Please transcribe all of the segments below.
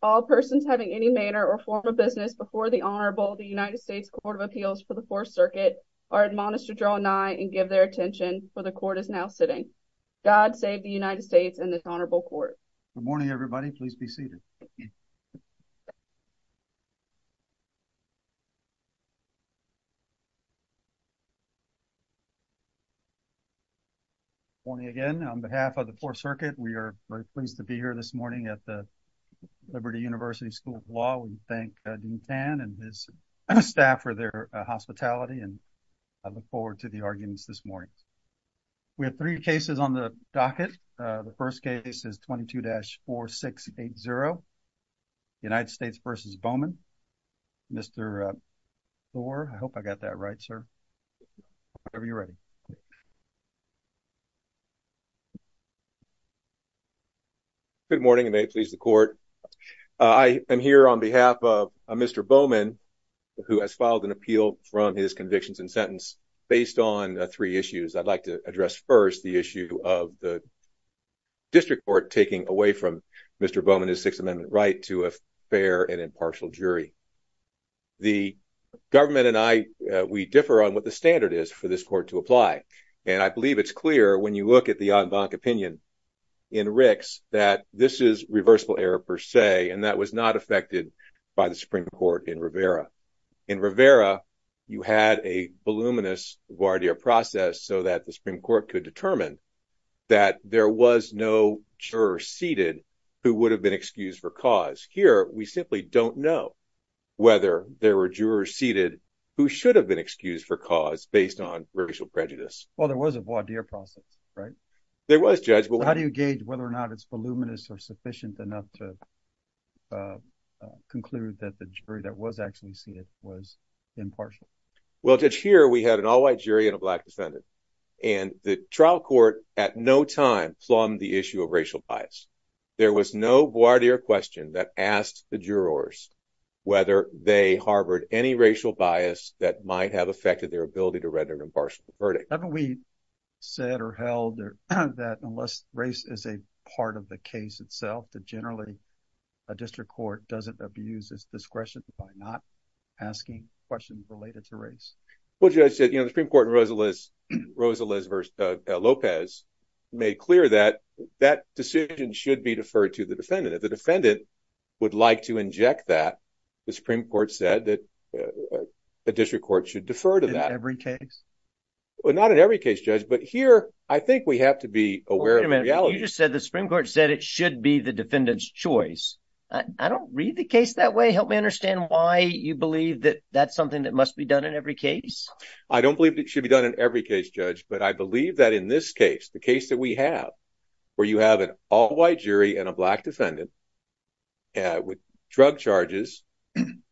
All persons having any manner or form of business before the Honorable, the United States Court of Appeals for the Fourth Circuit are admonished to draw nigh and give their attention, for the Court is now sitting. God save the United States and this Honorable Court. Good morning, everybody. Please be seated. Good morning again. On behalf of the Fourth Circuit, we are very pleased to be here this morning at the Liberty University School of Law. We thank Dean Tan and his staff for their hospitality and I look forward to the arguments this morning. We have three cases on the docket. The first case is 22-4680, United States v. Bowman. Mr. Thorpe, I hope I got that right, sir, whenever you're ready. Good morning. Good morning. May it please the Court. I am here on behalf of Mr. Bowman, who has filed an appeal from his convictions and sentence based on three issues. I'd like to address first the issue of the District Court taking away from Mr. Bowman his Sixth Amendment right to a fair and impartial jury. The government and I, we differ on what the standard is for this Court to apply and I And that was not affected by the Supreme Court in Rivera. In Rivera, you had a voluminous voir dire process so that the Supreme Court could determine that there was no juror seated who would have been excused for cause. Here, we simply don't know whether there were jurors seated who should have been excused for cause based on racial prejudice. Well, there was a voir dire process, right? There was, Judge. How do you gauge whether or not it's voluminous or sufficient enough to conclude that the jury that was actually seated was impartial? Well, Judge, here, we had an all-white jury and a black defendant and the trial court at no time plumbed the issue of racial bias. There was no voir dire question that asked the jurors whether they harbored any racial bias that might have affected their ability to render an impartial verdict. Haven't we said or held that unless race is a part of the case itself, that generally a district court doesn't abuse its discretion by not asking questions related to race? Well, Judge, the Supreme Court in Rosaliz v. Lopez made clear that that decision should be deferred to the defendant. If the defendant would like to inject that, the Supreme Court said that a district court should defer to that. In every case? Well, not in every case, Judge, but here, I think we have to be aware of the reality. Wait a minute. You just said the Supreme Court said it should be the defendant's choice. I don't read the case that way. Help me understand why you believe that that's something that must be done in every case. I don't believe it should be done in every case, Judge, but I believe that in this case, the case that we have, where you have an all-white jury and a black defendant with drug charges,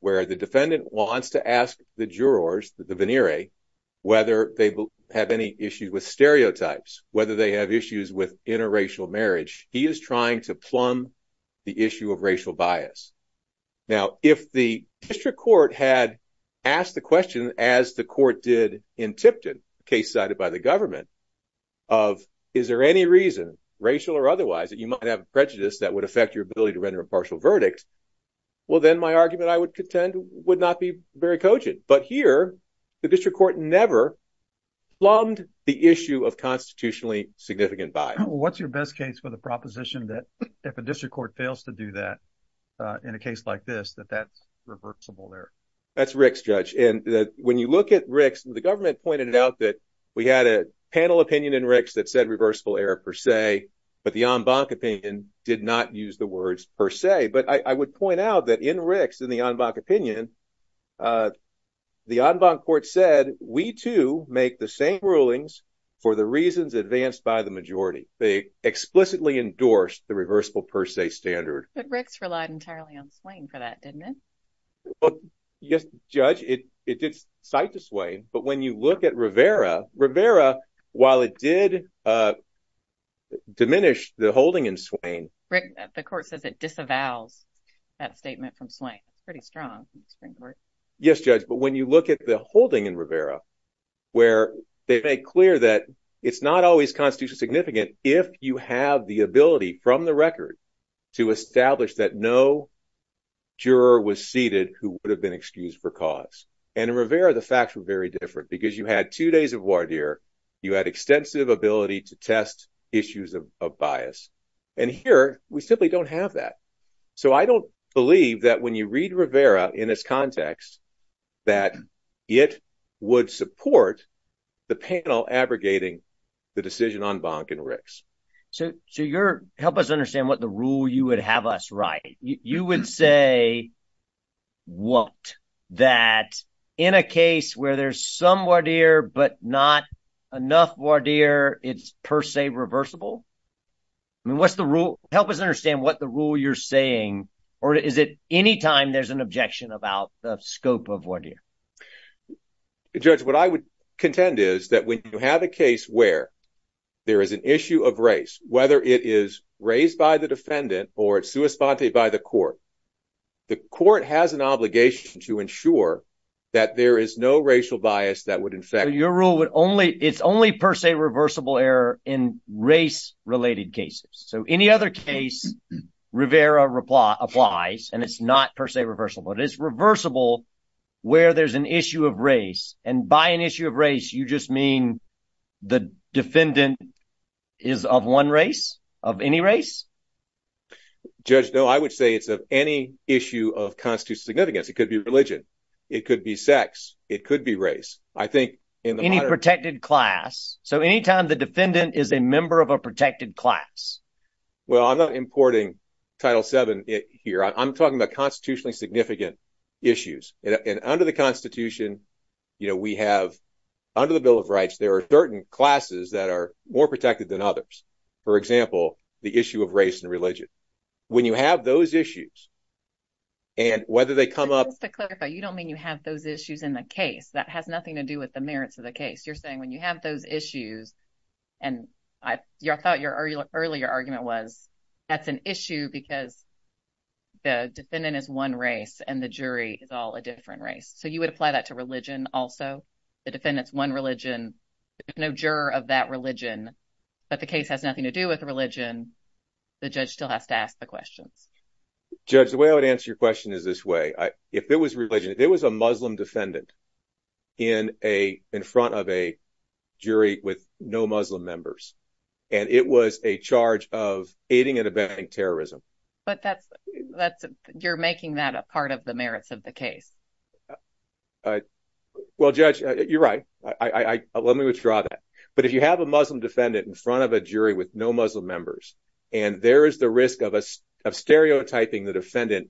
where the defendant wants to ask the jurors, the venere, whether they have any issues with stereotypes, whether they have issues with interracial marriage, he is trying to plumb the issue of racial bias. Now, if the district court had asked the question, as the court did in Tipton, a case cited by the government, of is there any reason, racial or otherwise, that you might have prejudice that would affect your ability to render a partial verdict, well, then my argument, I would contend, would not be very cogent. But here, the district court never plumbed the issue of constitutionally significant bias. What's your best case for the proposition that if a district court fails to do that in a case like this, that that's reversible error? That's Rick's, Judge. And when you look at Rick's, the government pointed out that we had a panel opinion in per se, but the en banc opinion did not use the words per se. But I would point out that in Rick's, in the en banc opinion, the en banc court said, we too make the same rulings for the reasons advanced by the majority. They explicitly endorsed the reversible per se standard. But Rick's relied entirely on Swain for that, didn't it? Yes, Judge, it did cite to Swain. But when you look at Rivera, Rivera, while it did diminish the holding in Swain. Rick, the court says it disavows that statement from Swain. Pretty strong. Yes, Judge, but when you look at the holding in Rivera, where they make clear that it's not always constitutionally significant if you have the ability from the record to establish that no juror was seated who would have been excused for cause. And in Rivera, the facts were very different because you had two days of voir dire. You had extensive ability to test issues of bias. And here we simply don't have that. So I don't believe that when you read Rivera in this context, that it would support the panel abrogating the decision en banc in Rick's. So help us understand what the rule you would have us write. You would say what? That in a case where there's some voir dire, but not enough voir dire, it's per se reversible? I mean, what's the rule? Help us understand what the rule you're saying. Or is it any time there's an objection about the scope of voir dire? Judge, what I would contend is that when you have a case where there is an issue of race, whether it is raised by the defendant or it's sua sponte by the court, the court has an obligation to ensure that there is no racial bias that would affect your rule. But only it's only per se reversible error in race related cases. So any other case Rivera applies and it's not per se reversible. It is reversible where there's an issue of race and by an issue of race. You just mean the defendant is of one race of any race? Judge, no, I would say it's of any issue of constitutional significance. It could be religion. It could be sex. It could be race. I think in any protected class. So any time the defendant is a member of a protected class. Well, I'm not importing Title seven here. I'm talking about constitutionally significant issues and under the Constitution. You know, we have under the Bill of Rights, there are certain classes that are more protected than others. For example, the issue of race and religion. When you have those issues. And whether they come up to clarify, you don't mean you have those issues in the case that has nothing to do with the merits of the case. You're saying when you have those issues and I thought your earlier argument was that's an issue because. The defendant is one race and the jury is all a different race. So you would apply that to religion also. The defendant's one religion, no juror of that religion. But the case has nothing to do with religion. The judge still has to ask the questions. Judge, the way I would answer your question is this way. If it was religion, if it was a Muslim defendant in a in front of a jury with no Muslim members and it was a charge of aiding and abetting terrorism. But that's that's you're making that a part of the merits of the case. Well, judge, you're right. I let me withdraw that. But if you have a Muslim defendant in front of a jury with no Muslim members. And there is the risk of us of stereotyping the defendant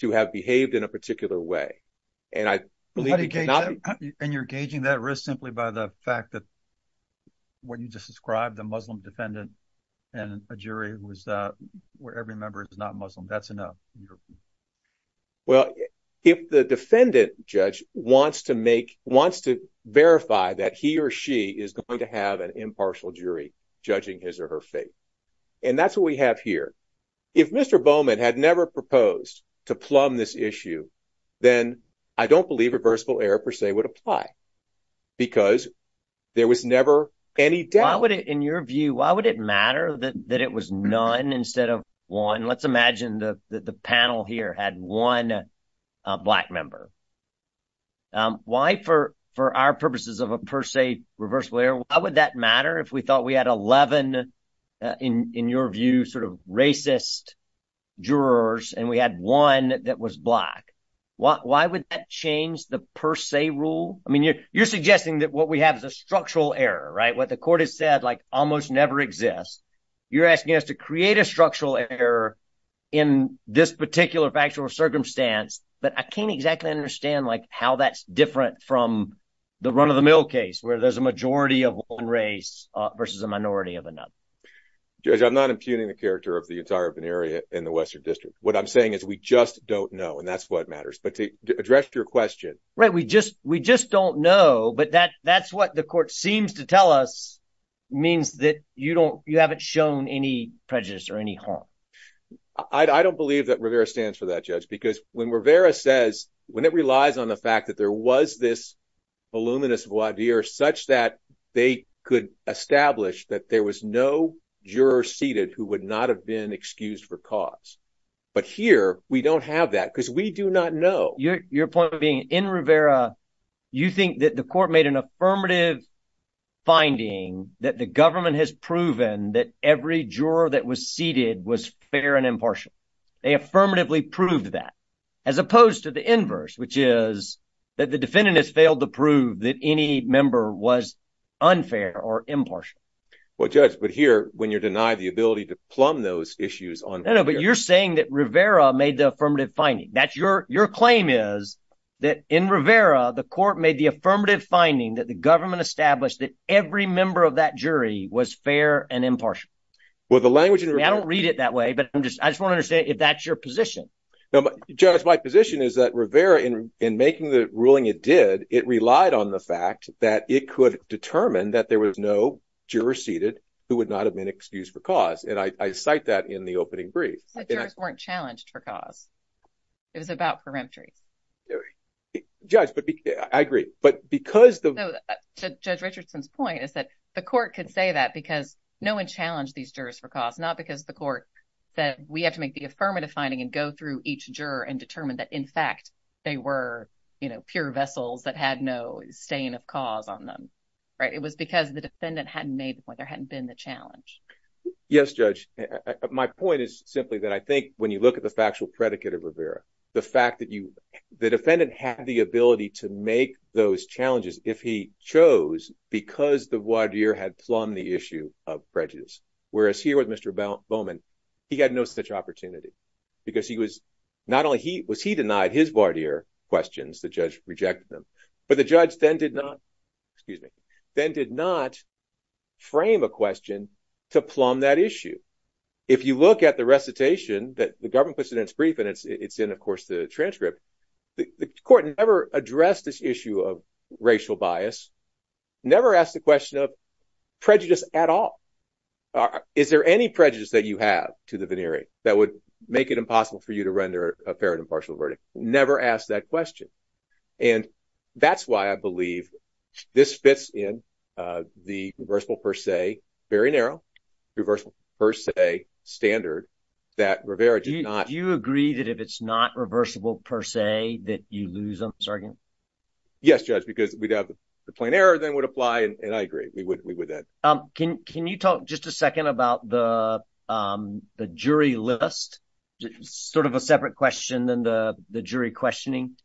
to have behaved in a particular way. And I believe you're gauging that risk simply by the fact that. What you just described, the Muslim defendant and a jury was where every member is not Muslim. That's enough. Well, if the defendant judge wants to make wants to verify that he or she is going to have an impartial jury judging his or her faith. And that's what we have here. If Mr. Bowman had never proposed to plumb this issue, then I don't believe reversible error per se would apply. Because there was never any doubt. In your view, why would it matter that it was none instead of one? Let's imagine that the panel here had one black member. Why, for our purposes of a per se reversible error, why would that matter if we thought we had 11, in your view, sort of racist jurors and we had one that was black? Why would that change the per se rule? You're suggesting that what we have is a structural error, right? What the court has said almost never exists. You're asking us to create a structural error in this particular factual circumstance. But I can't exactly understand how that's different from the run-of-the-mill case, where there's a majority of one race versus a minority of another. Judge, I'm not impugning the character of the entire urban area in the Western District. What I'm saying is we just don't know. And that's what matters. But to address your question. Right. We just don't know. But that's what the court seems to tell us means that you haven't shown any prejudice or any harm. I don't believe that Rivera stands for that, Judge, because when Rivera says, when it relies on the fact that there was this voluminous voir dire such that they could establish that there was no juror seated who would not have been excused for cause. But here, we don't have that because we do not know. Your point being in Rivera, you think that the court made an affirmative finding that the government has proven that every juror that was seated was fair and impartial. They affirmatively proved that as opposed to the inverse, which is that the defendant has failed to prove that any member was unfair or impartial. Well, Judge, but here, when you're denied the ability to plumb those issues on. I know, but you're saying that Rivera made the affirmative finding. Your claim is that in Rivera, the court made the affirmative finding that the government established that every member of that jury was fair and impartial. Well, the language. I don't read it that way, but I just want to say if that's your position. Judge, my position is that Rivera in making the ruling it did, it relied on the fact that it could determine that there was no juror seated who would not have been excused for cause. And I cite that in the opening brief. Jurors weren't challenged for cause. It was about peremptory. Judge, but I agree, but because the. Judge Richardson's point is that the court could say that because no one challenged these jurors for cause, not because the court that we have to make the affirmative finding and go through each juror and determine that, in fact, they were, you know, pure vessels that had no stain of cause on them. Right. It was because the defendant hadn't made when there hadn't been the challenge. Yes, Judge. My point is simply that I think when you look at the factual predicate of Rivera, the fact that you the defendant had the ability to make those challenges if he chose because the voir dire had plumbed the issue of prejudice, whereas here with Mr. Bowman, he had no such opportunity because he was not only he was he denied his voir dire questions, the judge rejected them, but the judge then did not. Excuse me, then did not frame a question to plumb that issue. If you look at the recitation that the government puts in its brief, and it's in, of course, the transcript, the court never addressed this issue of racial bias, never asked the question of prejudice at all. Is there any prejudice that you have to the veneering that would make it impossible for you to render a fair and impartial verdict? Never asked that question. And that's why I believe this fits in the reversible per se, very narrow, reversible per se standard that Rivera did not. Do you agree that if it's not reversible per se that you lose on this argument? Yes, Judge, because we'd have the plain error then would apply. And I agree we would we would then. Can you talk just a second about the jury list? Sort of a separate question than the jury questioning.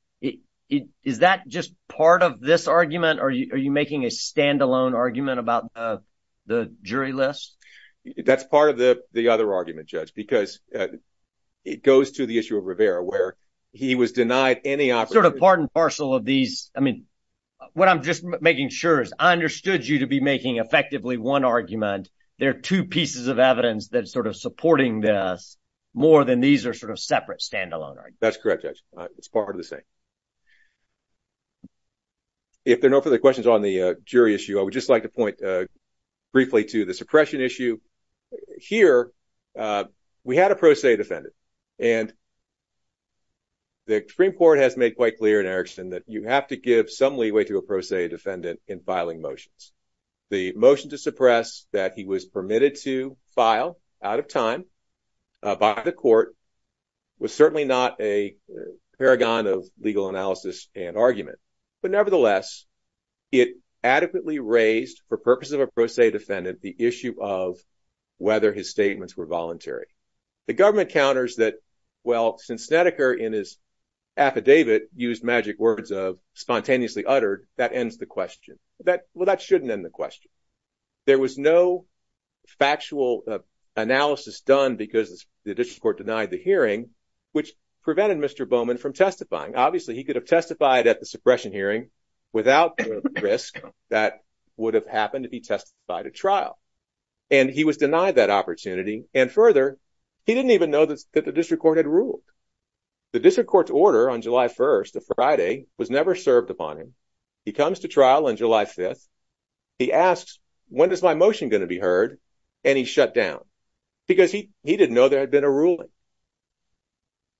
Is that just part of this argument? Are you making a standalone argument about the jury list? That's part of the the other argument, Judge, because it goes to the issue of Rivera where he was denied any sort of part and parcel of these. I mean, what I'm just making sure is I understood you to be making effectively one argument. There are two pieces of evidence that sort of supporting this more than these are sort of separate standalone. That's correct. It's part of the same. If there are no further questions on the jury issue, I would just like to point briefly to the suppression issue here. We had a pro se defendant and. The Supreme Court has made quite clear in Erickson that you have to give some leeway to a pro se defendant in filing motions. The motion to suppress that he was permitted to file out of time by the was certainly not a paragon of legal analysis and argument, but nevertheless, it adequately raised for purposes of a pro se defendant the issue of whether his statements were voluntary. The government counters that, well, since Snedeker in his affidavit used magic words of spontaneously uttered, that ends the question. Well, that shouldn't end the question. There was no factual analysis done because the district court denied the hearing, which prevented Mr. Bowman from testifying. Obviously, he could have testified at the suppression hearing without the risk that would have happened if he testified at trial. And he was denied that opportunity. And further, he didn't even know that the district court had ruled. The district court's order on July 1st, a Friday, was never served upon him. He comes to trial on July 5th. He asks, when is my motion going to be heard? And he shut down because he didn't know there had been a ruling.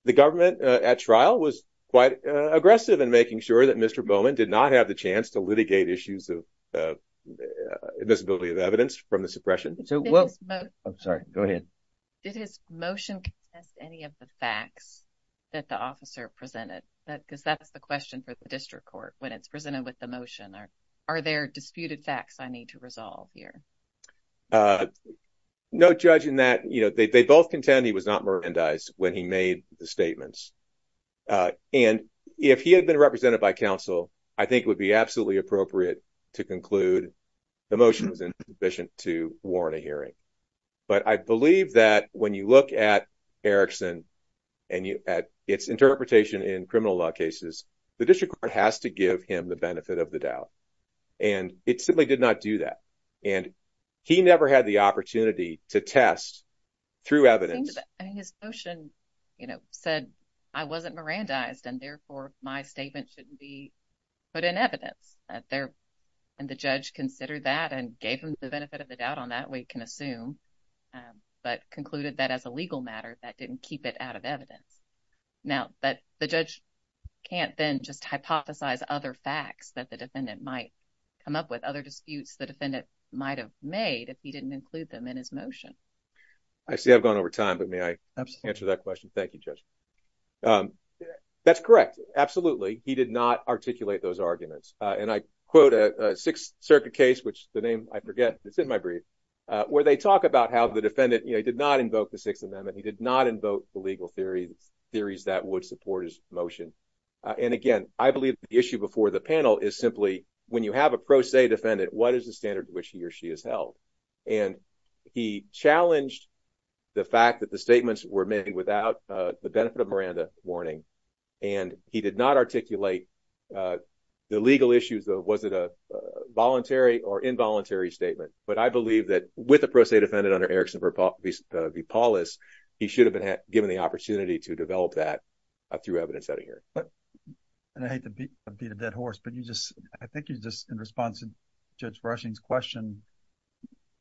The government at trial was quite aggressive in making sure that Mr. Bowman did not have the chance to litigate issues of invisibility of evidence from the suppression. I'm sorry. Go ahead. Did his motion contest any of the facts that the officer presented? Because that's the question for the motion. Are there disputed facts I need to resolve here? No, judging that, they both contend he was not merandized when he made the statements. And if he had been represented by counsel, I think it would be absolutely appropriate to conclude the motion was insufficient to warrant a hearing. But I believe that when you look at Erickson and its interpretation in criminal law cases, the district court has to give him the benefit of the doubt. And it simply did not do that. And he never had the opportunity to test through evidence. I mean, his motion, you know, said I wasn't merandized and therefore my statement shouldn't be put in evidence. And the judge considered that and gave him the benefit of the doubt on that, we can assume, but concluded that as a legal matter, that didn't keep it out of evidence. Now that the judge can't then just hypothesize other facts that the defendant might come up with other disputes, the defendant might have made if he didn't include them in his motion. I see I've gone over time, but may I answer that question? Thank you, Judge. That's correct. Absolutely. He did not articulate those arguments. And I quote a Sixth Circuit case, which the name I forget, it's in my brief, where they talk about how the defendant did not invoke the Sixth Amendment. He did not invoke the legal theories, theories that would support his motion. And again, I believe the issue before the panel is simply, when you have a pro se defendant, what is the standard to which he or she is held? And he challenged the fact that the statements were made without the benefit of Miranda warning. And he did not articulate the legal issues of was it a voluntary or involuntary statement. But I believe that with a pro se defendant under Erickson v. Paulus, he should have been given the opportunity to develop that through evidence out of here. And I hate to beat a dead horse, but you just, I think you just, in response to Judge Brushing's question,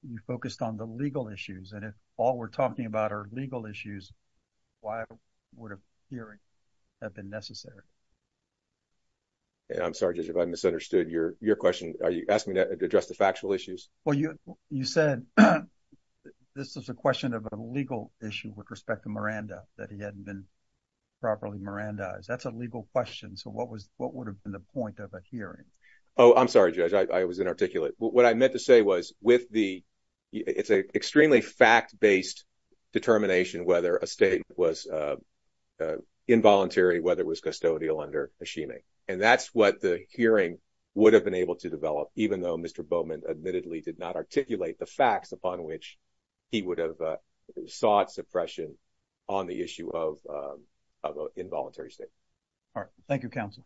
you focused on the legal issues. And if all we're talking about are legal issues, why would a hearing have been necessary? And I'm sorry, Judge, if I misunderstood your question. Are you asking me to address the factual issues? Well, you said this is a question of a legal issue with respect to Miranda, that he hadn't been properly Mirandized. That's a legal question. So what was, what would have been the point of a hearing? Oh, I'm sorry, Judge, I was inarticulate. What I meant to say was with the, it's an extremely fact-based determination whether a statement was involuntary, whether it was custodial under Hashimi. And that's what the hearing would have been able to develop, even though Mr. Bowman admittedly did not articulate the facts upon which he would have sought suppression on the issue of an involuntary statement. All right. Thank you, Counsel.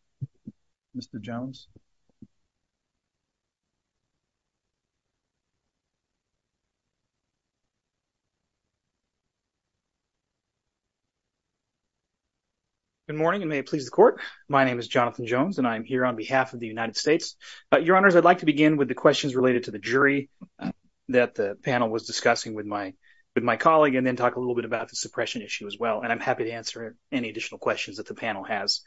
Mr. Jones? Good morning, and may it please the Court. My name is Jonathan Jones, and I am here on behalf of the United States. Your Honors, I'd like to begin with the questions related to the jury that the panel was discussing with my colleague, and then talk a little bit about the suppression issue as well. And I'm happy to answer any additional questions that the panel has.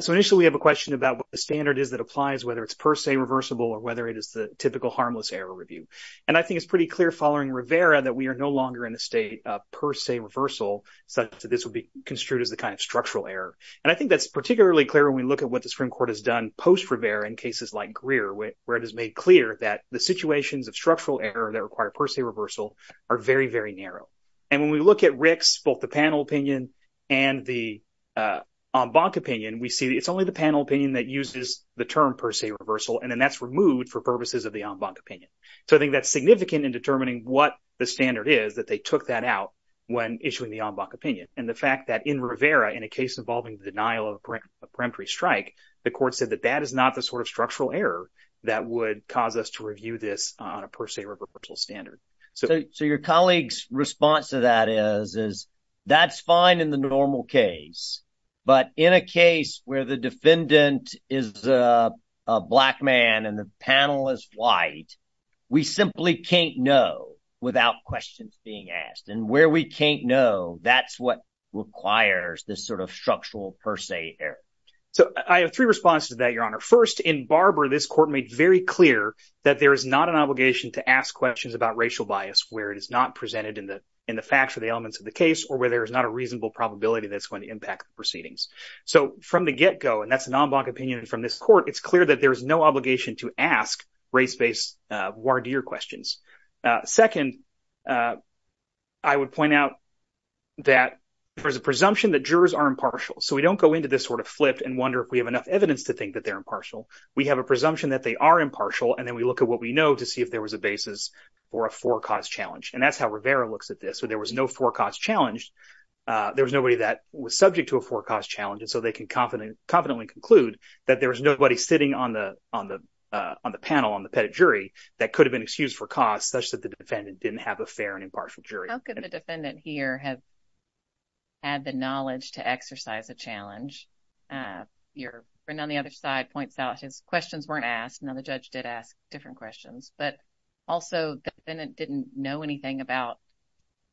So initially, we have a question about what the standard is that applies, whether it's per se reversible or whether it is the typical harmless error review. And I think it's pretty clear following Rivera that we are no longer in a state of per se reversal, such that this would be construed as the kind of structural error. And I think that's particularly clear when we look at the Supreme Court has done post-Rivera in cases like Greer, where it is made clear that the situations of structural error that require per se reversal are very, very narrow. And when we look at Rick's, both the panel opinion and the en banc opinion, we see it's only the panel opinion that uses the term per se reversal, and then that's removed for purposes of the en banc opinion. So I think that's significant in determining what the standard is that they took that out when issuing the en banc opinion. And the fact that in Rivera, in a case involving the denial of a peremptory strike, the court said that that is not the sort of structural error that would cause us to review this on a per se reversal standard. So your colleague's response to that is, is that's fine in the normal case, but in a case where the defendant is a black man and the panel is white, we simply can't know without questions being asked. And where we can't know, that's what requires this sort of structural per se error. So I have three responses to that, Your Honor. First, in Barber, this court made very clear that there is not an obligation to ask questions about racial bias where it is not presented in the facts or the elements of the case, or where there is not a reasonable probability that's going to impact proceedings. So from the get go, and that's an en banc opinion from this court, it's clear that there is no obligation to ask race-based questions. Second, I would point out that there's a presumption that jurors are impartial. So we don't go into this sort of flipped and wonder if we have enough evidence to think that they're impartial. We have a presumption that they are impartial, and then we look at what we know to see if there was a basis for a four cause challenge. And that's how Rivera looks at this. So there was no four cause challenge. There was nobody that was subject to a four cause challenge. And so they can confidently conclude that there was nobody sitting on the panel, on the jury, that could have been excused for cause such that the defendant didn't have a fair and impartial jury. How could the defendant here have had the knowledge to exercise a challenge? Your friend on the other side points out his questions weren't asked. Now the judge did ask different questions, but also the defendant didn't know anything about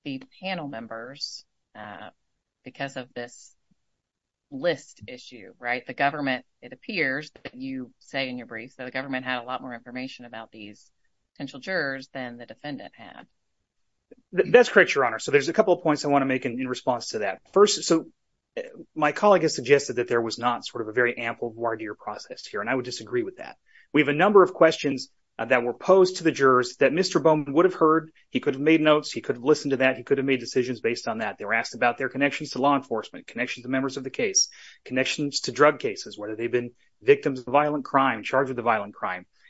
the panel members because of this list issue, right? The government, it appears that you say in your briefs that the potential jurors had more information about these potential jurors than the defendant had. That's correct, Your Honor. So there's a couple of points I want to make in response to that. First, so my colleague has suggested that there was not sort of a very ample voir dire process here, and I would disagree with that. We have a number of questions that were posed to the jurors that Mr. Bowman would have heard. He could have made notes. He could have listened to that. He could have made decisions based on that. They were asked about their connections to law enforcement, connections to members of the case, connections to drug cases, whether they've been victims of violent crime.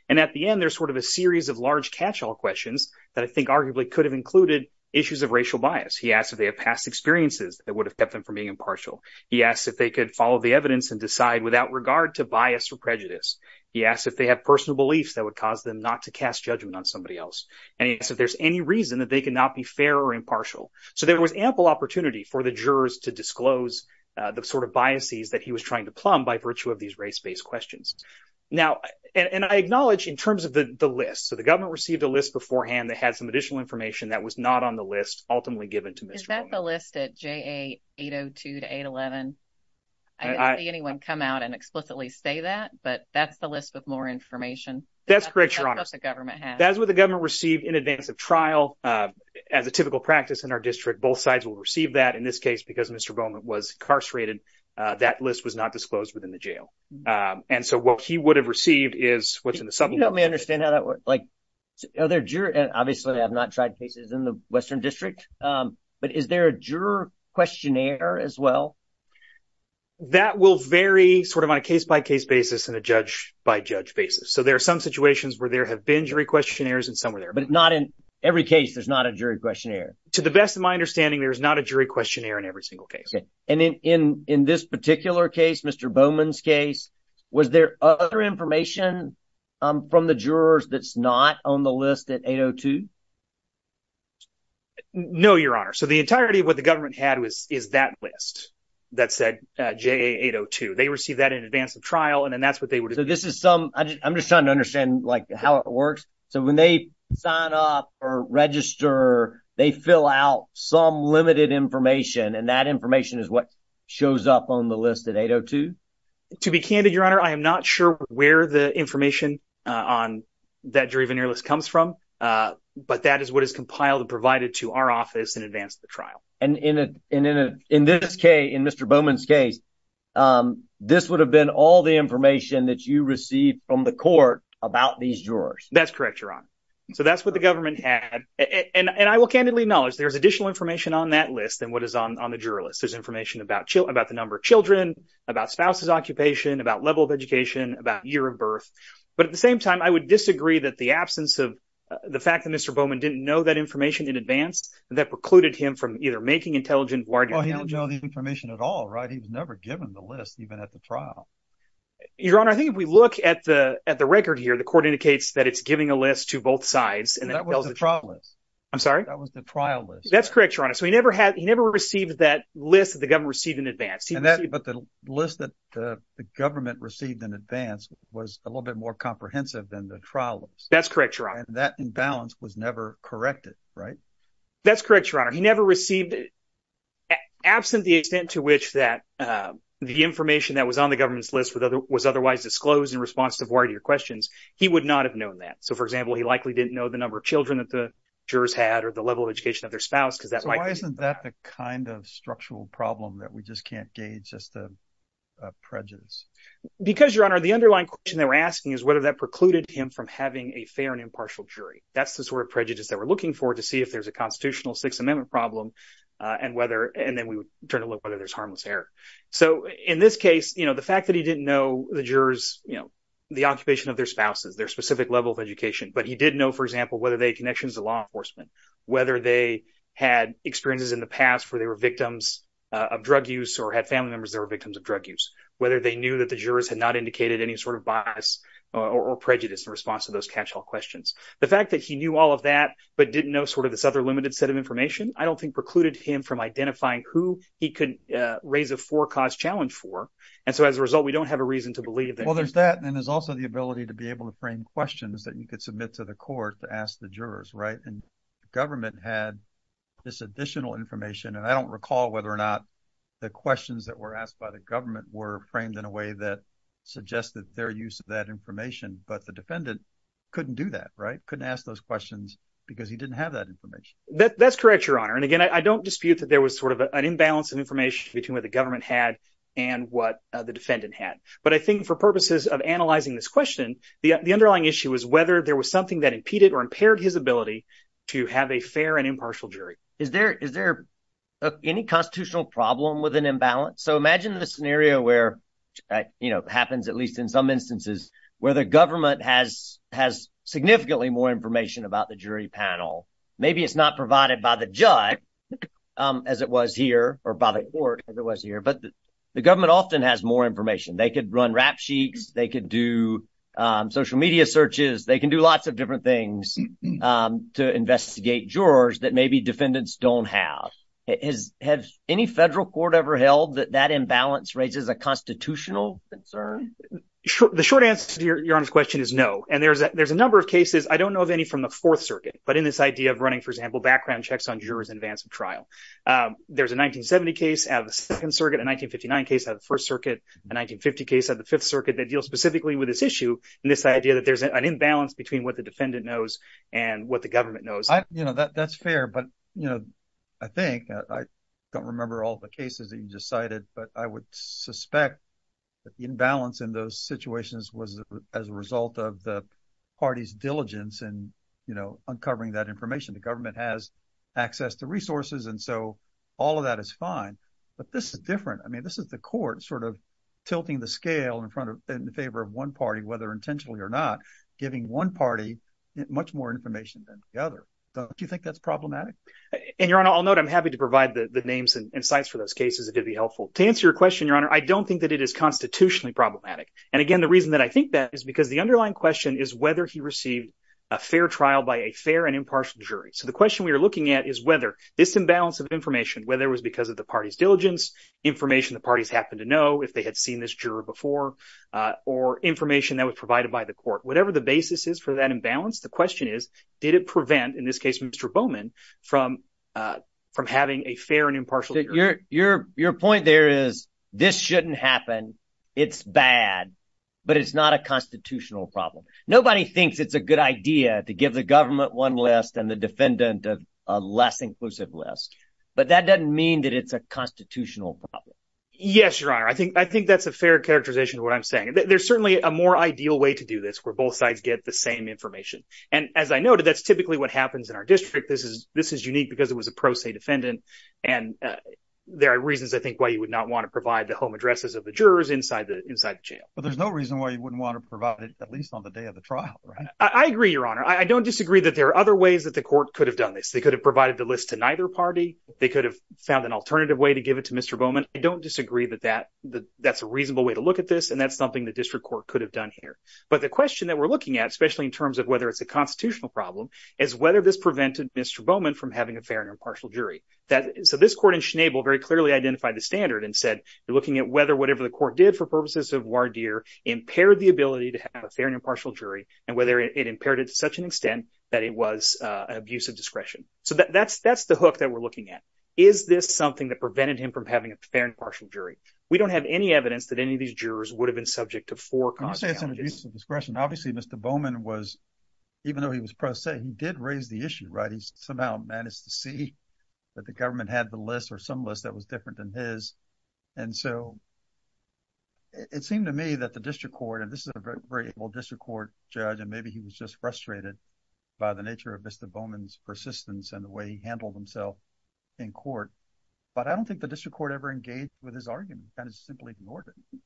And at the end, there's sort of a series of large catch-all questions that I think arguably could have included issues of racial bias. He asked if they have past experiences that would have kept them from being impartial. He asked if they could follow the evidence and decide without regard to bias or prejudice. He asked if they have personal beliefs that would cause them not to cast judgment on somebody else. And he asked if there's any reason that they could not be fair or impartial. So there was ample opportunity for the jurors to disclose the sort of biases that he was trying to plumb by virtue of these race-based questions. Now, and I acknowledge in terms of the list, so the government received a list beforehand that had some additional information that was not on the list ultimately given to Mr. Bowman. Is that the list at JA 802 to 811? I didn't see anyone come out and explicitly say that, but that's the list with more information. That's correct, Your Honor. That's what the government has. That's what the government received in advance of trial. As a typical practice in our district, both sides will receive that. In this case, because Mr. Bowman was incarcerated, that list was not disclosed within the jail. And so what he would have received is what's in the supplement. Can you help me understand how that works? Obviously, I have not tried cases in the Western District, but is there a juror questionnaire as well? That will vary sort of on a case-by-case basis and a judge-by-judge basis. So there are some situations where there have been jury questionnaires and some are there. But not in every case, there's not a jury questionnaire. To the best of my understanding, there is not a jury questionnaire in every single case. And in this particular case, Mr. Bowman's case, was there other information from the jurors that's not on the list at 802? No, Your Honor. So the entirety of what the government had was that list that said JA802. They received that in advance of trial, and then that's what they would... So this is some... I'm just trying to understand how it works. So when they sign up or register, they fill out some limited information and that information is what shows up on the list at 802? To be candid, Your Honor, I am not sure where the information on that jury questionnaire list comes from, but that is what is compiled and provided to our office in advance of the trial. And in this case, in Mr. Bowman's case, this would have been all the information that you received from the court about these jurors? That's correct, Your Honor. So that's what government had. And I will candidly acknowledge there's additional information on that list than what is on the juror list. There's information about the number of children, about spouse's occupation, about level of education, about year of birth. But at the same time, I would disagree that the absence of the fact that Mr. Bowman didn't know that information in advance, that precluded him from either making intelligent or... Well, he didn't know the information at all, right? He was never given the list even at the trial. Your Honor, I think if we look at the record here, the court indicates that it's giving a list to both sides. That was the trial list. I'm sorry? That was the trial list. That's correct, Your Honor. So he never received that list that the government received in advance. But the list that the government received in advance was a little bit more comprehensive than the trial list. That's correct, Your Honor. That imbalance was never corrected, right? That's correct, Your Honor. He never received it absent the extent to which the information that was on the government's list was otherwise disclosed in response to a variety of questions. He would not have known that. So for example, he likely didn't know the number of children that the jurors had or the level of education of their spouse because that might be... So why isn't that the kind of structural problem that we just can't gauge as a prejudice? Because, Your Honor, the underlying question they were asking is whether that precluded him from having a fair and impartial jury. That's the sort of prejudice that we're looking for to see if there's a constitutional Sixth Amendment problem and then we would turn to look whether there's harmless error. So in this case, the fact that he didn't know the jurors, the occupation of their spouses, their specific level of education, but he did know, for example, whether they had connections to law enforcement, whether they had experiences in the past where they were victims of drug use or had family members that were victims of drug use, whether they knew that the jurors had not indicated any sort of bias or prejudice in response to those catch-all questions. The fact that he knew all of that but didn't know sort of this other limited set of information, I don't think precluded him from identifying who he could raise a forecast challenge for. And so as a result, we don't have a reason to believe that... Well, there's that and there's also the ability to be able to frame questions that you could submit to the court to ask the jurors, right? And the government had this additional information, and I don't recall whether or not the questions that were asked by the government were framed in a way that suggested their use of that information, but the defendant couldn't do that, right? Couldn't ask those questions because he didn't have that information. That's correct, your honor. And again, I don't dispute that there was sort of an imbalance of information between what the government had and what the defendant had. But I think for purposes of analyzing this question, the underlying issue was whether there was something that impeded or impaired his ability to have a fair and impartial jury. Is there any constitutional problem with an imbalance? So imagine the scenario where, you know, happens at least in some instances where the government has significantly more information about the jury panel. Maybe it's not provided by the judge as it was here or by the court as it was here, but the government often has more information. They could run rap sheets, they could do social media searches, they can do lots of different things to investigate jurors that maybe defendants don't have. Has any federal court ever held that that imbalance raises a constitutional concern? The short answer to your honor's question is no. And there's a number of from the Fourth Circuit, but in this idea of running, for example, background checks on jurors in advance of trial. There's a 1970 case out of the Second Circuit, a 1959 case out of the First Circuit, a 1950 case out of the Fifth Circuit that deals specifically with this issue and this idea that there's an imbalance between what the defendant knows and what the government knows. You know, that's fair, but, you know, I think, I don't remember all the cases that you just cited, but I would suspect that the imbalance in those situations was as a result of the party's diligence in, you know, uncovering that information. The government has access to resources, and so all of that is fine, but this is different. I mean, this is the court sort of tilting the scale in front of, in favor of one party, whether intentionally or not, giving one party much more information than the other. Don't you think that's problematic? And your honor, I'll note, I'm happy to provide the names and insights for those cases. It did be helpful. To answer your question, your honor, I don't think that it is constitutionally problematic. And again, the reason that I question is whether he received a fair trial by a fair and impartial jury. So the question we are looking at is whether this imbalance of information, whether it was because of the party's diligence, information the parties happened to know if they had seen this juror before, or information that was provided by the court, whatever the basis is for that imbalance, the question is, did it prevent, in this case, Mr. Bowman from having a fair and impartial jury? Your point there is this shouldn't happen. It's bad, but it's not a constitutional problem. Nobody thinks it's a good idea to give the government one list and the defendant a less inclusive list, but that doesn't mean that it's a constitutional problem. Yes, your honor. I think that's a fair characterization of what I'm saying. There's certainly a more ideal way to do this where both sides get the same information. And as I noted, that's typically what happens in our district. This is unique because it was a provide the home addresses of the jurors inside the jail. But there's no reason why you wouldn't want to provide it, at least on the day of the trial. I agree, your honor. I don't disagree that there are other ways that the court could have done this. They could have provided the list to neither party. They could have found an alternative way to give it to Mr. Bowman. I don't disagree that that's a reasonable way to look at this, and that's something the district court could have done here. But the question that we're looking at, especially in terms of whether it's a constitutional problem, is whether this prevented Mr. Bowman from having a fair and impartial jury. So this court in Schnabel very clearly identified the standard and said, looking at whether whatever the court did for purposes of voir dire, impaired the ability to have a fair and impartial jury, and whether it impaired it to such an extent that it was an abuse of discretion. So that's the hook that we're looking at. Is this something that prevented him from having a fair and impartial jury? We don't have any evidence that any of these jurors would have been subject to four constitutional challenges. Can you say it's an abuse of discretion? Obviously, Mr. Bowman was, even though he was pro se, he did raise the issue, right? He somehow managed to see that the government had the list or some list that was different than his. And so it seemed to me that the district court, and this is a very able district court judge, and maybe he was just frustrated by the nature of Mr. Bowman's persistence and the way he handled himself in court. But I don't think the district court ever engaged with his argument, kind of simply ignored it.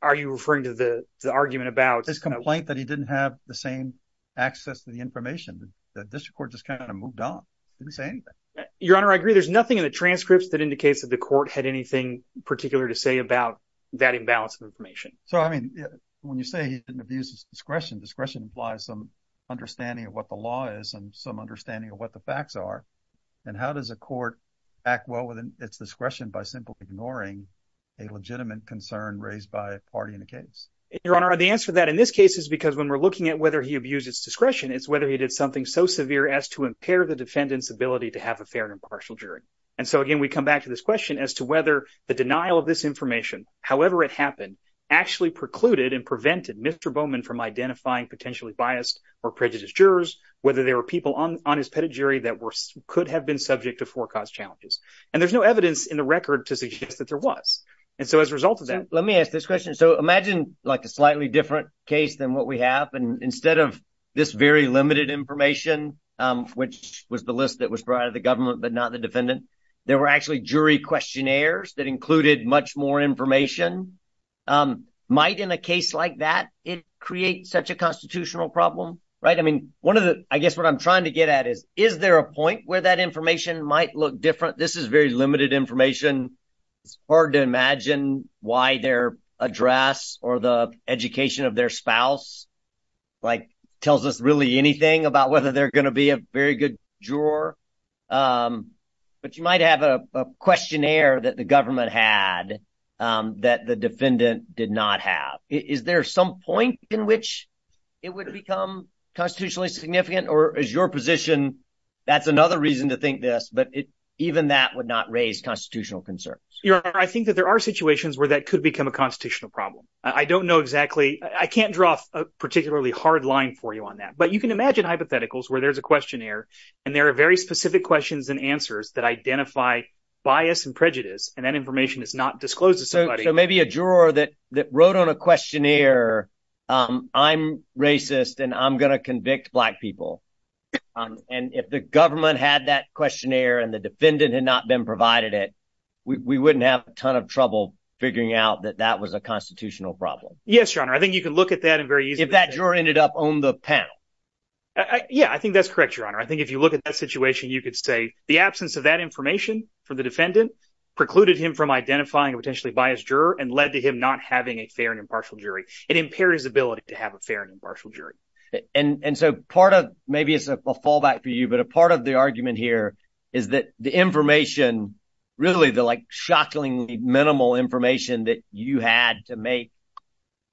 Are you referring to the argument about- His complaint that he didn't have the same access to the information, the district court just kind of moved on, didn't say anything. Your Honor, I agree. There's nothing in the transcripts that indicates that the court had anything particular to say about that imbalance of information. So, I mean, when you say he didn't abuse his discretion, discretion implies some understanding of what the law is and some understanding of what the facts are. And how does a court act well within its discretion by simply ignoring a legitimate concern raised by a party in the case? Your Honor, the answer to that in this case is because when we're looking at whether he abused his discretion, it's whether he did something so severe as to impair the defendant's ability to have a fair and impartial jury. And so, again, we come back to this question as to whether the denial of this information, however it happened, actually precluded and prevented Mr. Bowman from identifying potentially biased or prejudiced jurors, whether there were people on his pedigree that could have been subject to forecast challenges. And there's no evidence in the record to suggest that there was. And so, as a result of that- Let me ask this question. So, imagine like a slightly different case than what we have, instead of this very limited information, which was the list that was provided the government, but not the defendant, there were actually jury questionnaires that included much more information. Might in a case like that, it create such a constitutional problem, right? I mean, one of the, I guess what I'm trying to get at is, is there a point where that information might look different? This is very limited information. It's hard to imagine why their address or the education of their spouse, like tells us really anything about whether they're going to be a very good juror. But you might have a questionnaire that the government had that the defendant did not have. Is there some point in which it would become constitutionally significant or is your position, that's another reason to think this, but even that would not raise constitutional concerns? I think that there are situations where that could become a constitutional problem. I don't know exactly, I can't draw a particularly hard line for you on that, but you can imagine hypotheticals where there's a questionnaire and there are very specific questions and answers that identify bias and prejudice and that information is not disclosed to somebody. So maybe a juror that wrote on a questionnaire, I'm racist and I'm going to convict black people. And if the government had that questionnaire and the defendant had not been provided it, we wouldn't have a ton of trouble figuring out that that was a constitutional problem. Yes, your honor. I think you can look at that and very easily. If that juror ended up on the panel. Yeah, I think that's correct, your honor. I think if you look at that situation, you could say the absence of that information for the defendant precluded him from identifying a potentially biased juror and led to him not having a fair and impartial jury. It impaired his ability to have a fair and impartial jury. And so part of, maybe it's a fallback for you, but a part of the argument here is that the information, really the shockingly minimal information that you had to make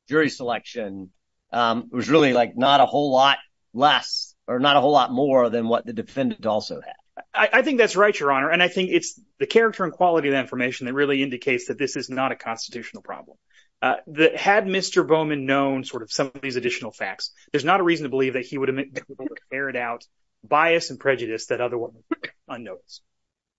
jury selection was really like not a whole lot less or not a whole lot more than what the defendant also had. I think that's right, your honor. And I think it's the character and quality of the information that really indicates that this is not a constitutional problem. Had Mr. Bowman known some of these additional facts, there's not a reason to believe that he would have been able to carry out bias and prejudice that otherwise would have been unnoticed.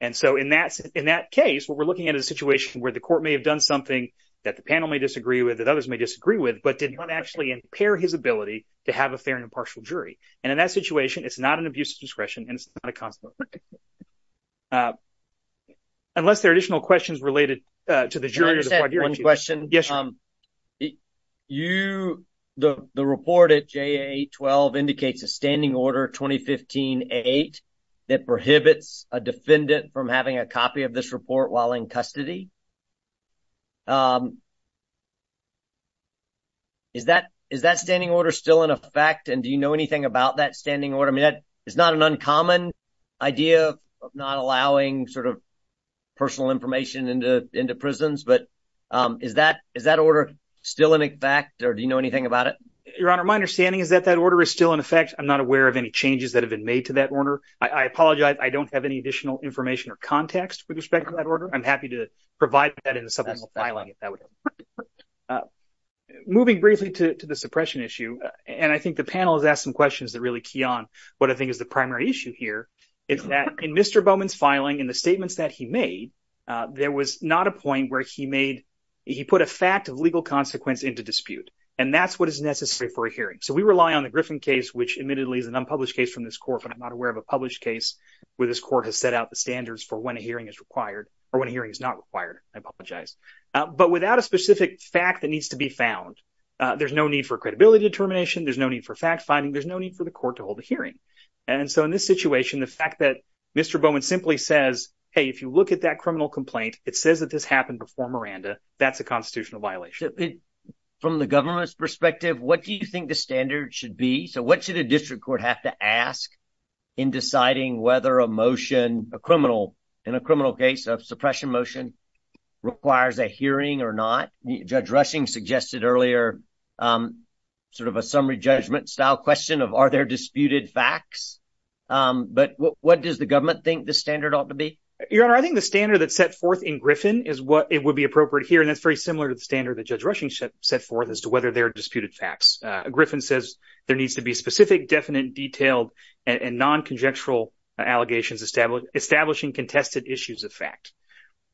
And so in that case, what we're looking at is a situation where the court may have done something that the panel may disagree with, that others may disagree with, but did not actually impair his ability to have a fair and impartial jury. And in that situation, it's not an abuse of discretion and it's not a constitutional problem. Unless there are additional questions related to the jurors. Can I just add one question? Yes, your honor. The report at JA-12 indicates a standing order 2015-8 that prohibits a defendant from having a copy of this report while in custody. Is that standing order still in effect? And do you know anything about that standing order? It's not an uncommon idea of not allowing personal information into prisons, but is that order still in effect or do you know anything about it? Your honor, my understanding is that that order is still in effect. I'm not aware of any changes that have been made to that order. I apologize. I don't have any additional information or context with respect to that order. I'm happy to provide that in the subpoena filing if that would help. Moving briefly to the suppression issue, and I think the panel has asked some questions that really key on what I think is the primary issue here, is that in Mr. Bowman's filing, in the statements that he made, there was not a point where he put a fact of legal consequence into dispute. And that's what is necessary for a hearing. So we rely on the Griffin case, which admittedly is an unpublished case from this court, but I'm not aware of a published case where this court has set out the standards for when a hearing is required or when a hearing is not required. I apologize. But without a specific fact that needs to be found, there's no need for credibility determination. There's no need for fact finding. There's no need for the court to hold a hearing. And so in this situation, the fact that Mr. Bowman simply says, hey, if you look at that criminal complaint, it says that this happened before Miranda, that's a constitutional violation. From the government's perspective, what do you think the standard should be? So what should a district court have to ask in deciding whether a motion, a criminal, in a criminal case of suppression motion requires a hearing or not? Judge Rushing suggested earlier sort of a summary judgment style question of are there disputed facts? But what does the government think the standard ought to be? Your Honor, I think the standard that's set forth in Griffin is what it similar to the standard that Judge Rushing set forth as to whether there are disputed facts. Griffin says there needs to be specific, definite, detailed and non-conjectural allegations establishing contested issues of fact.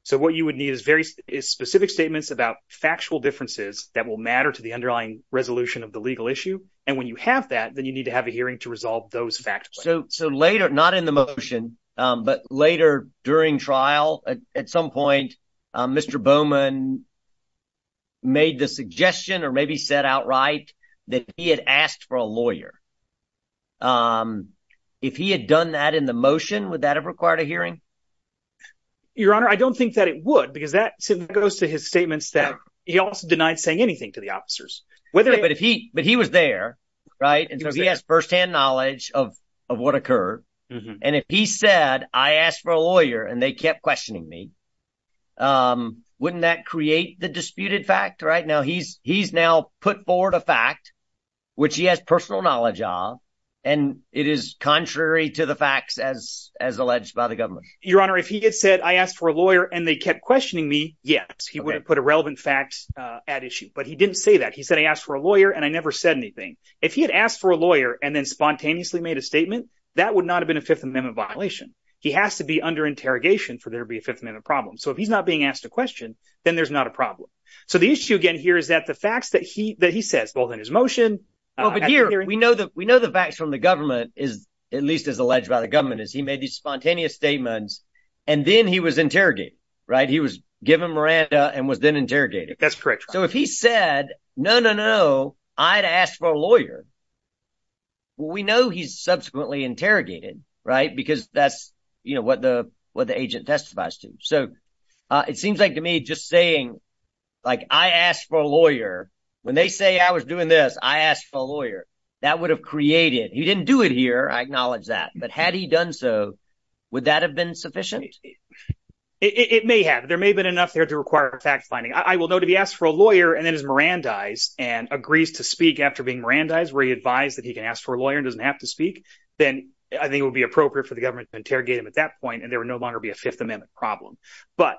So what you would need is very specific statements about factual differences that will matter to the underlying resolution of the legal issue. And when you have that, then you need to have a hearing to resolve those facts. So later, not in the made the suggestion or maybe said outright that he had asked for a lawyer. If he had done that in the motion, would that have required a hearing? Your Honor, I don't think that it would, because that goes to his statements that he also denied saying anything to the officers. But he was there, right? And so he has firsthand knowledge of what occurred. And if he said, I asked for a lawyer and they kept questioning me, wouldn't that create the disputed fact right now? He's he's now put forward a fact which he has personal knowledge of, and it is contrary to the facts as as alleged by the government. Your Honor, if he had said I asked for a lawyer and they kept questioning me, yes, he would have put a relevant fact at issue. But he didn't say that. He said I asked for a lawyer and I never said anything. If he had asked for a lawyer and then spontaneously made a statement, that would not have been a Fifth Amendment violation. He has to be under interrogation for there to be a Fifth Amendment problem. So if he's not being asked a question, then there's not a problem. So the issue again here is that the facts that he that he says, both in his motion. But here we know that we know the facts from the government is at least as alleged by the government as he made these spontaneous statements. And then he was interrogated. Right. He was given Miranda and was then interrogated. That's correct. So if he said, no, no, no, I'd ask for a lawyer. We know he's subsequently interrogated, right, because that's what the what the agent testifies to. So it seems like to me just saying like I asked for a lawyer when they say I was doing this, I asked for a lawyer that would have created he didn't do it here. I acknowledge that. But had he done so, would that have been sufficient? It may have. There may have been enough there to require a fact finding. I will know to be asked for a lawyer and then is Miranda eyes and agrees to speak after being Miranda eyes where he advised that he can ask for a lawyer and doesn't have to speak. Then I think it would be appropriate for the government to interrogate him at that point and there would no longer be a Fifth Amendment problem. But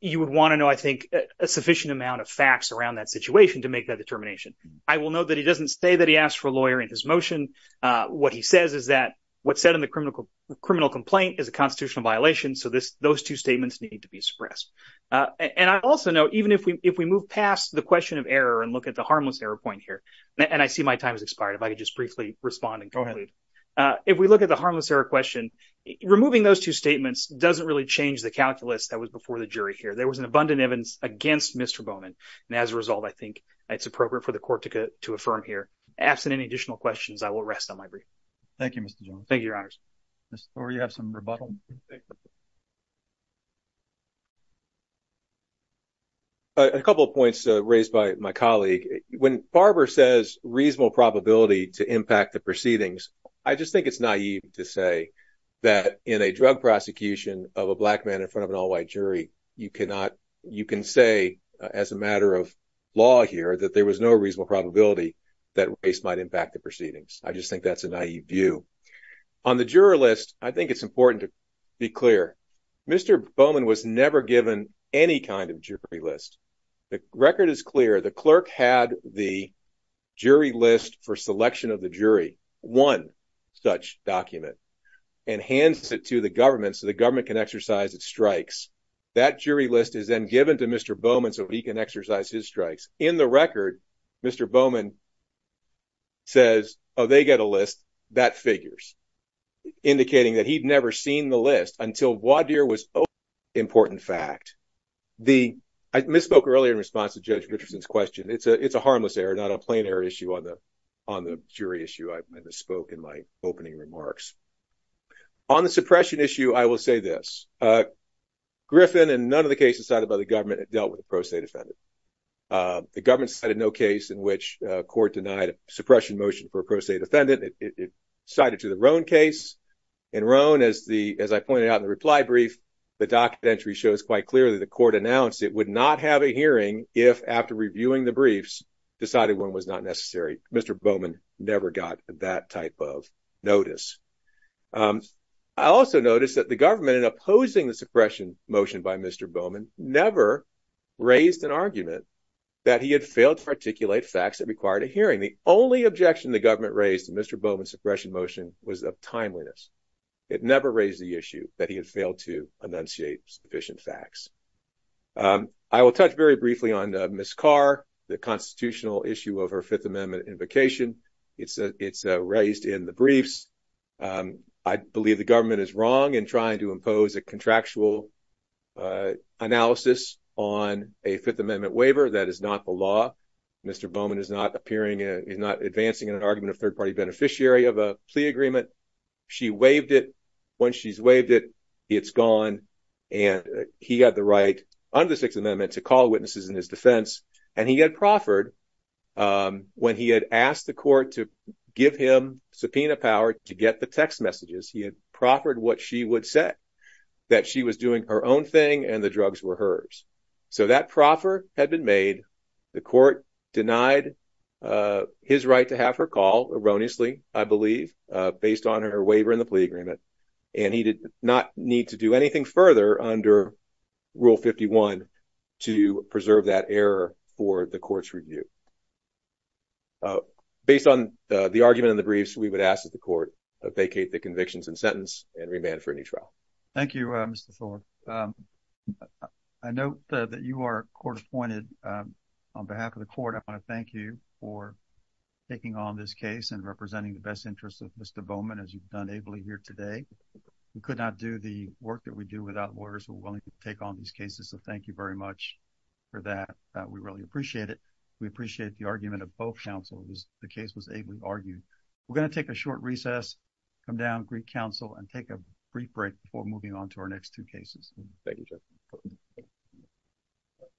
you would want to know, I think, a sufficient amount of facts around that situation to make that determination. I will note that he doesn't say that he asked for a lawyer in his motion. What he says is that what's said in the criminal criminal complaint is a constitutional violation. So this those two statements need to be expressed. And I also know even if we if we move past the question of error and look at the harmless error point here and I see my time has removing those two statements doesn't really change the calculus that was before the jury here. There was an abundant evidence against Mr Bowman. And as a result, I think it's appropriate for the court to to affirm here. Absent any additional questions, I will rest on my brief. Thank you, Mr. John. Thank you, Your Honors. Or you have some rebuttal. A couple of points raised by my colleague when Barbara says reasonable probability to impact the proceedings. I just think it's naive to say that in a drug prosecution of a black man in front of an all white jury, you cannot you can say as a matter of law here that there was no reasonable probability that race might impact the proceedings. I just think that's a naive view on the juror list. I think it's important to be clear. Mr. Bowman was never given any kind of jury list. The record is clear. The clerk had the jury list for selection of the jury, one such document, and hands it to the government so the government can exercise its strikes. That jury list is then given to Mr. Bowman so he can exercise his strikes. In the record, Mr. Bowman says, oh, they get a list that figures, indicating that he'd never seen the list until voir dire was questioned. It's a harmless error, not a plain error issue on the jury issue I just spoke in my opening remarks. On the suppression issue, I will say this. Griffin and none of the cases cited by the government dealt with a pro se defendant. The government cited no case in which court denied suppression motion for a pro se defendant. It cited to the Roane case. In Roane, as I pointed out in the reply brief, the documentary shows quite clearly the court announced it would not have a hearing if, after reviewing the briefs, decided one was not necessary. Mr. Bowman never got that type of notice. I also noticed that the government, in opposing the suppression motion by Mr. Bowman, never raised an argument that he had failed to articulate facts that required a hearing. The only objection the government raised to Mr. Bowman's suppression motion was of timeliness. It never raised the issue that he had failed to enunciate sufficient facts. I will touch very briefly on Ms. Carr, the constitutional issue of her Fifth Amendment invocation. It's raised in the briefs. I believe the government is wrong in trying to impose a contractual analysis on a Fifth Amendment waiver. That is not the law. Mr. Bowman is not appearing, is not advancing an argument of third-party beneficiary of a plea agreement. She waived it. Once she's waived it, it's gone. And he had the right, under the Sixth Amendment, to call witnesses in his defense. And he had proffered, when he had asked the court to give him subpoena power to get the text messages, he had proffered what she would say, that she was doing her own thing and the drugs were hers. So that proffer had been made. The plea agreement, and he did not need to do anything further under Rule 51 to preserve that error for the court's review. Based on the argument in the briefs, we would ask that the court vacate the convictions and sentence and remand for a new trial. Thank you, Mr. Thorpe. I note that you are court-appointed. On behalf of the court, I want to thank you for taking on this case and as you've done ably here today. We could not do the work that we do without lawyers who are willing to take on these cases, so thank you very much for that. We really appreciate it. We appreciate the argument of both counselors. The case was ably argued. We're going to take a short recess, come down, greet counsel, and take a brief break before moving on to our next two cases. Thank you, Judge Thorpe.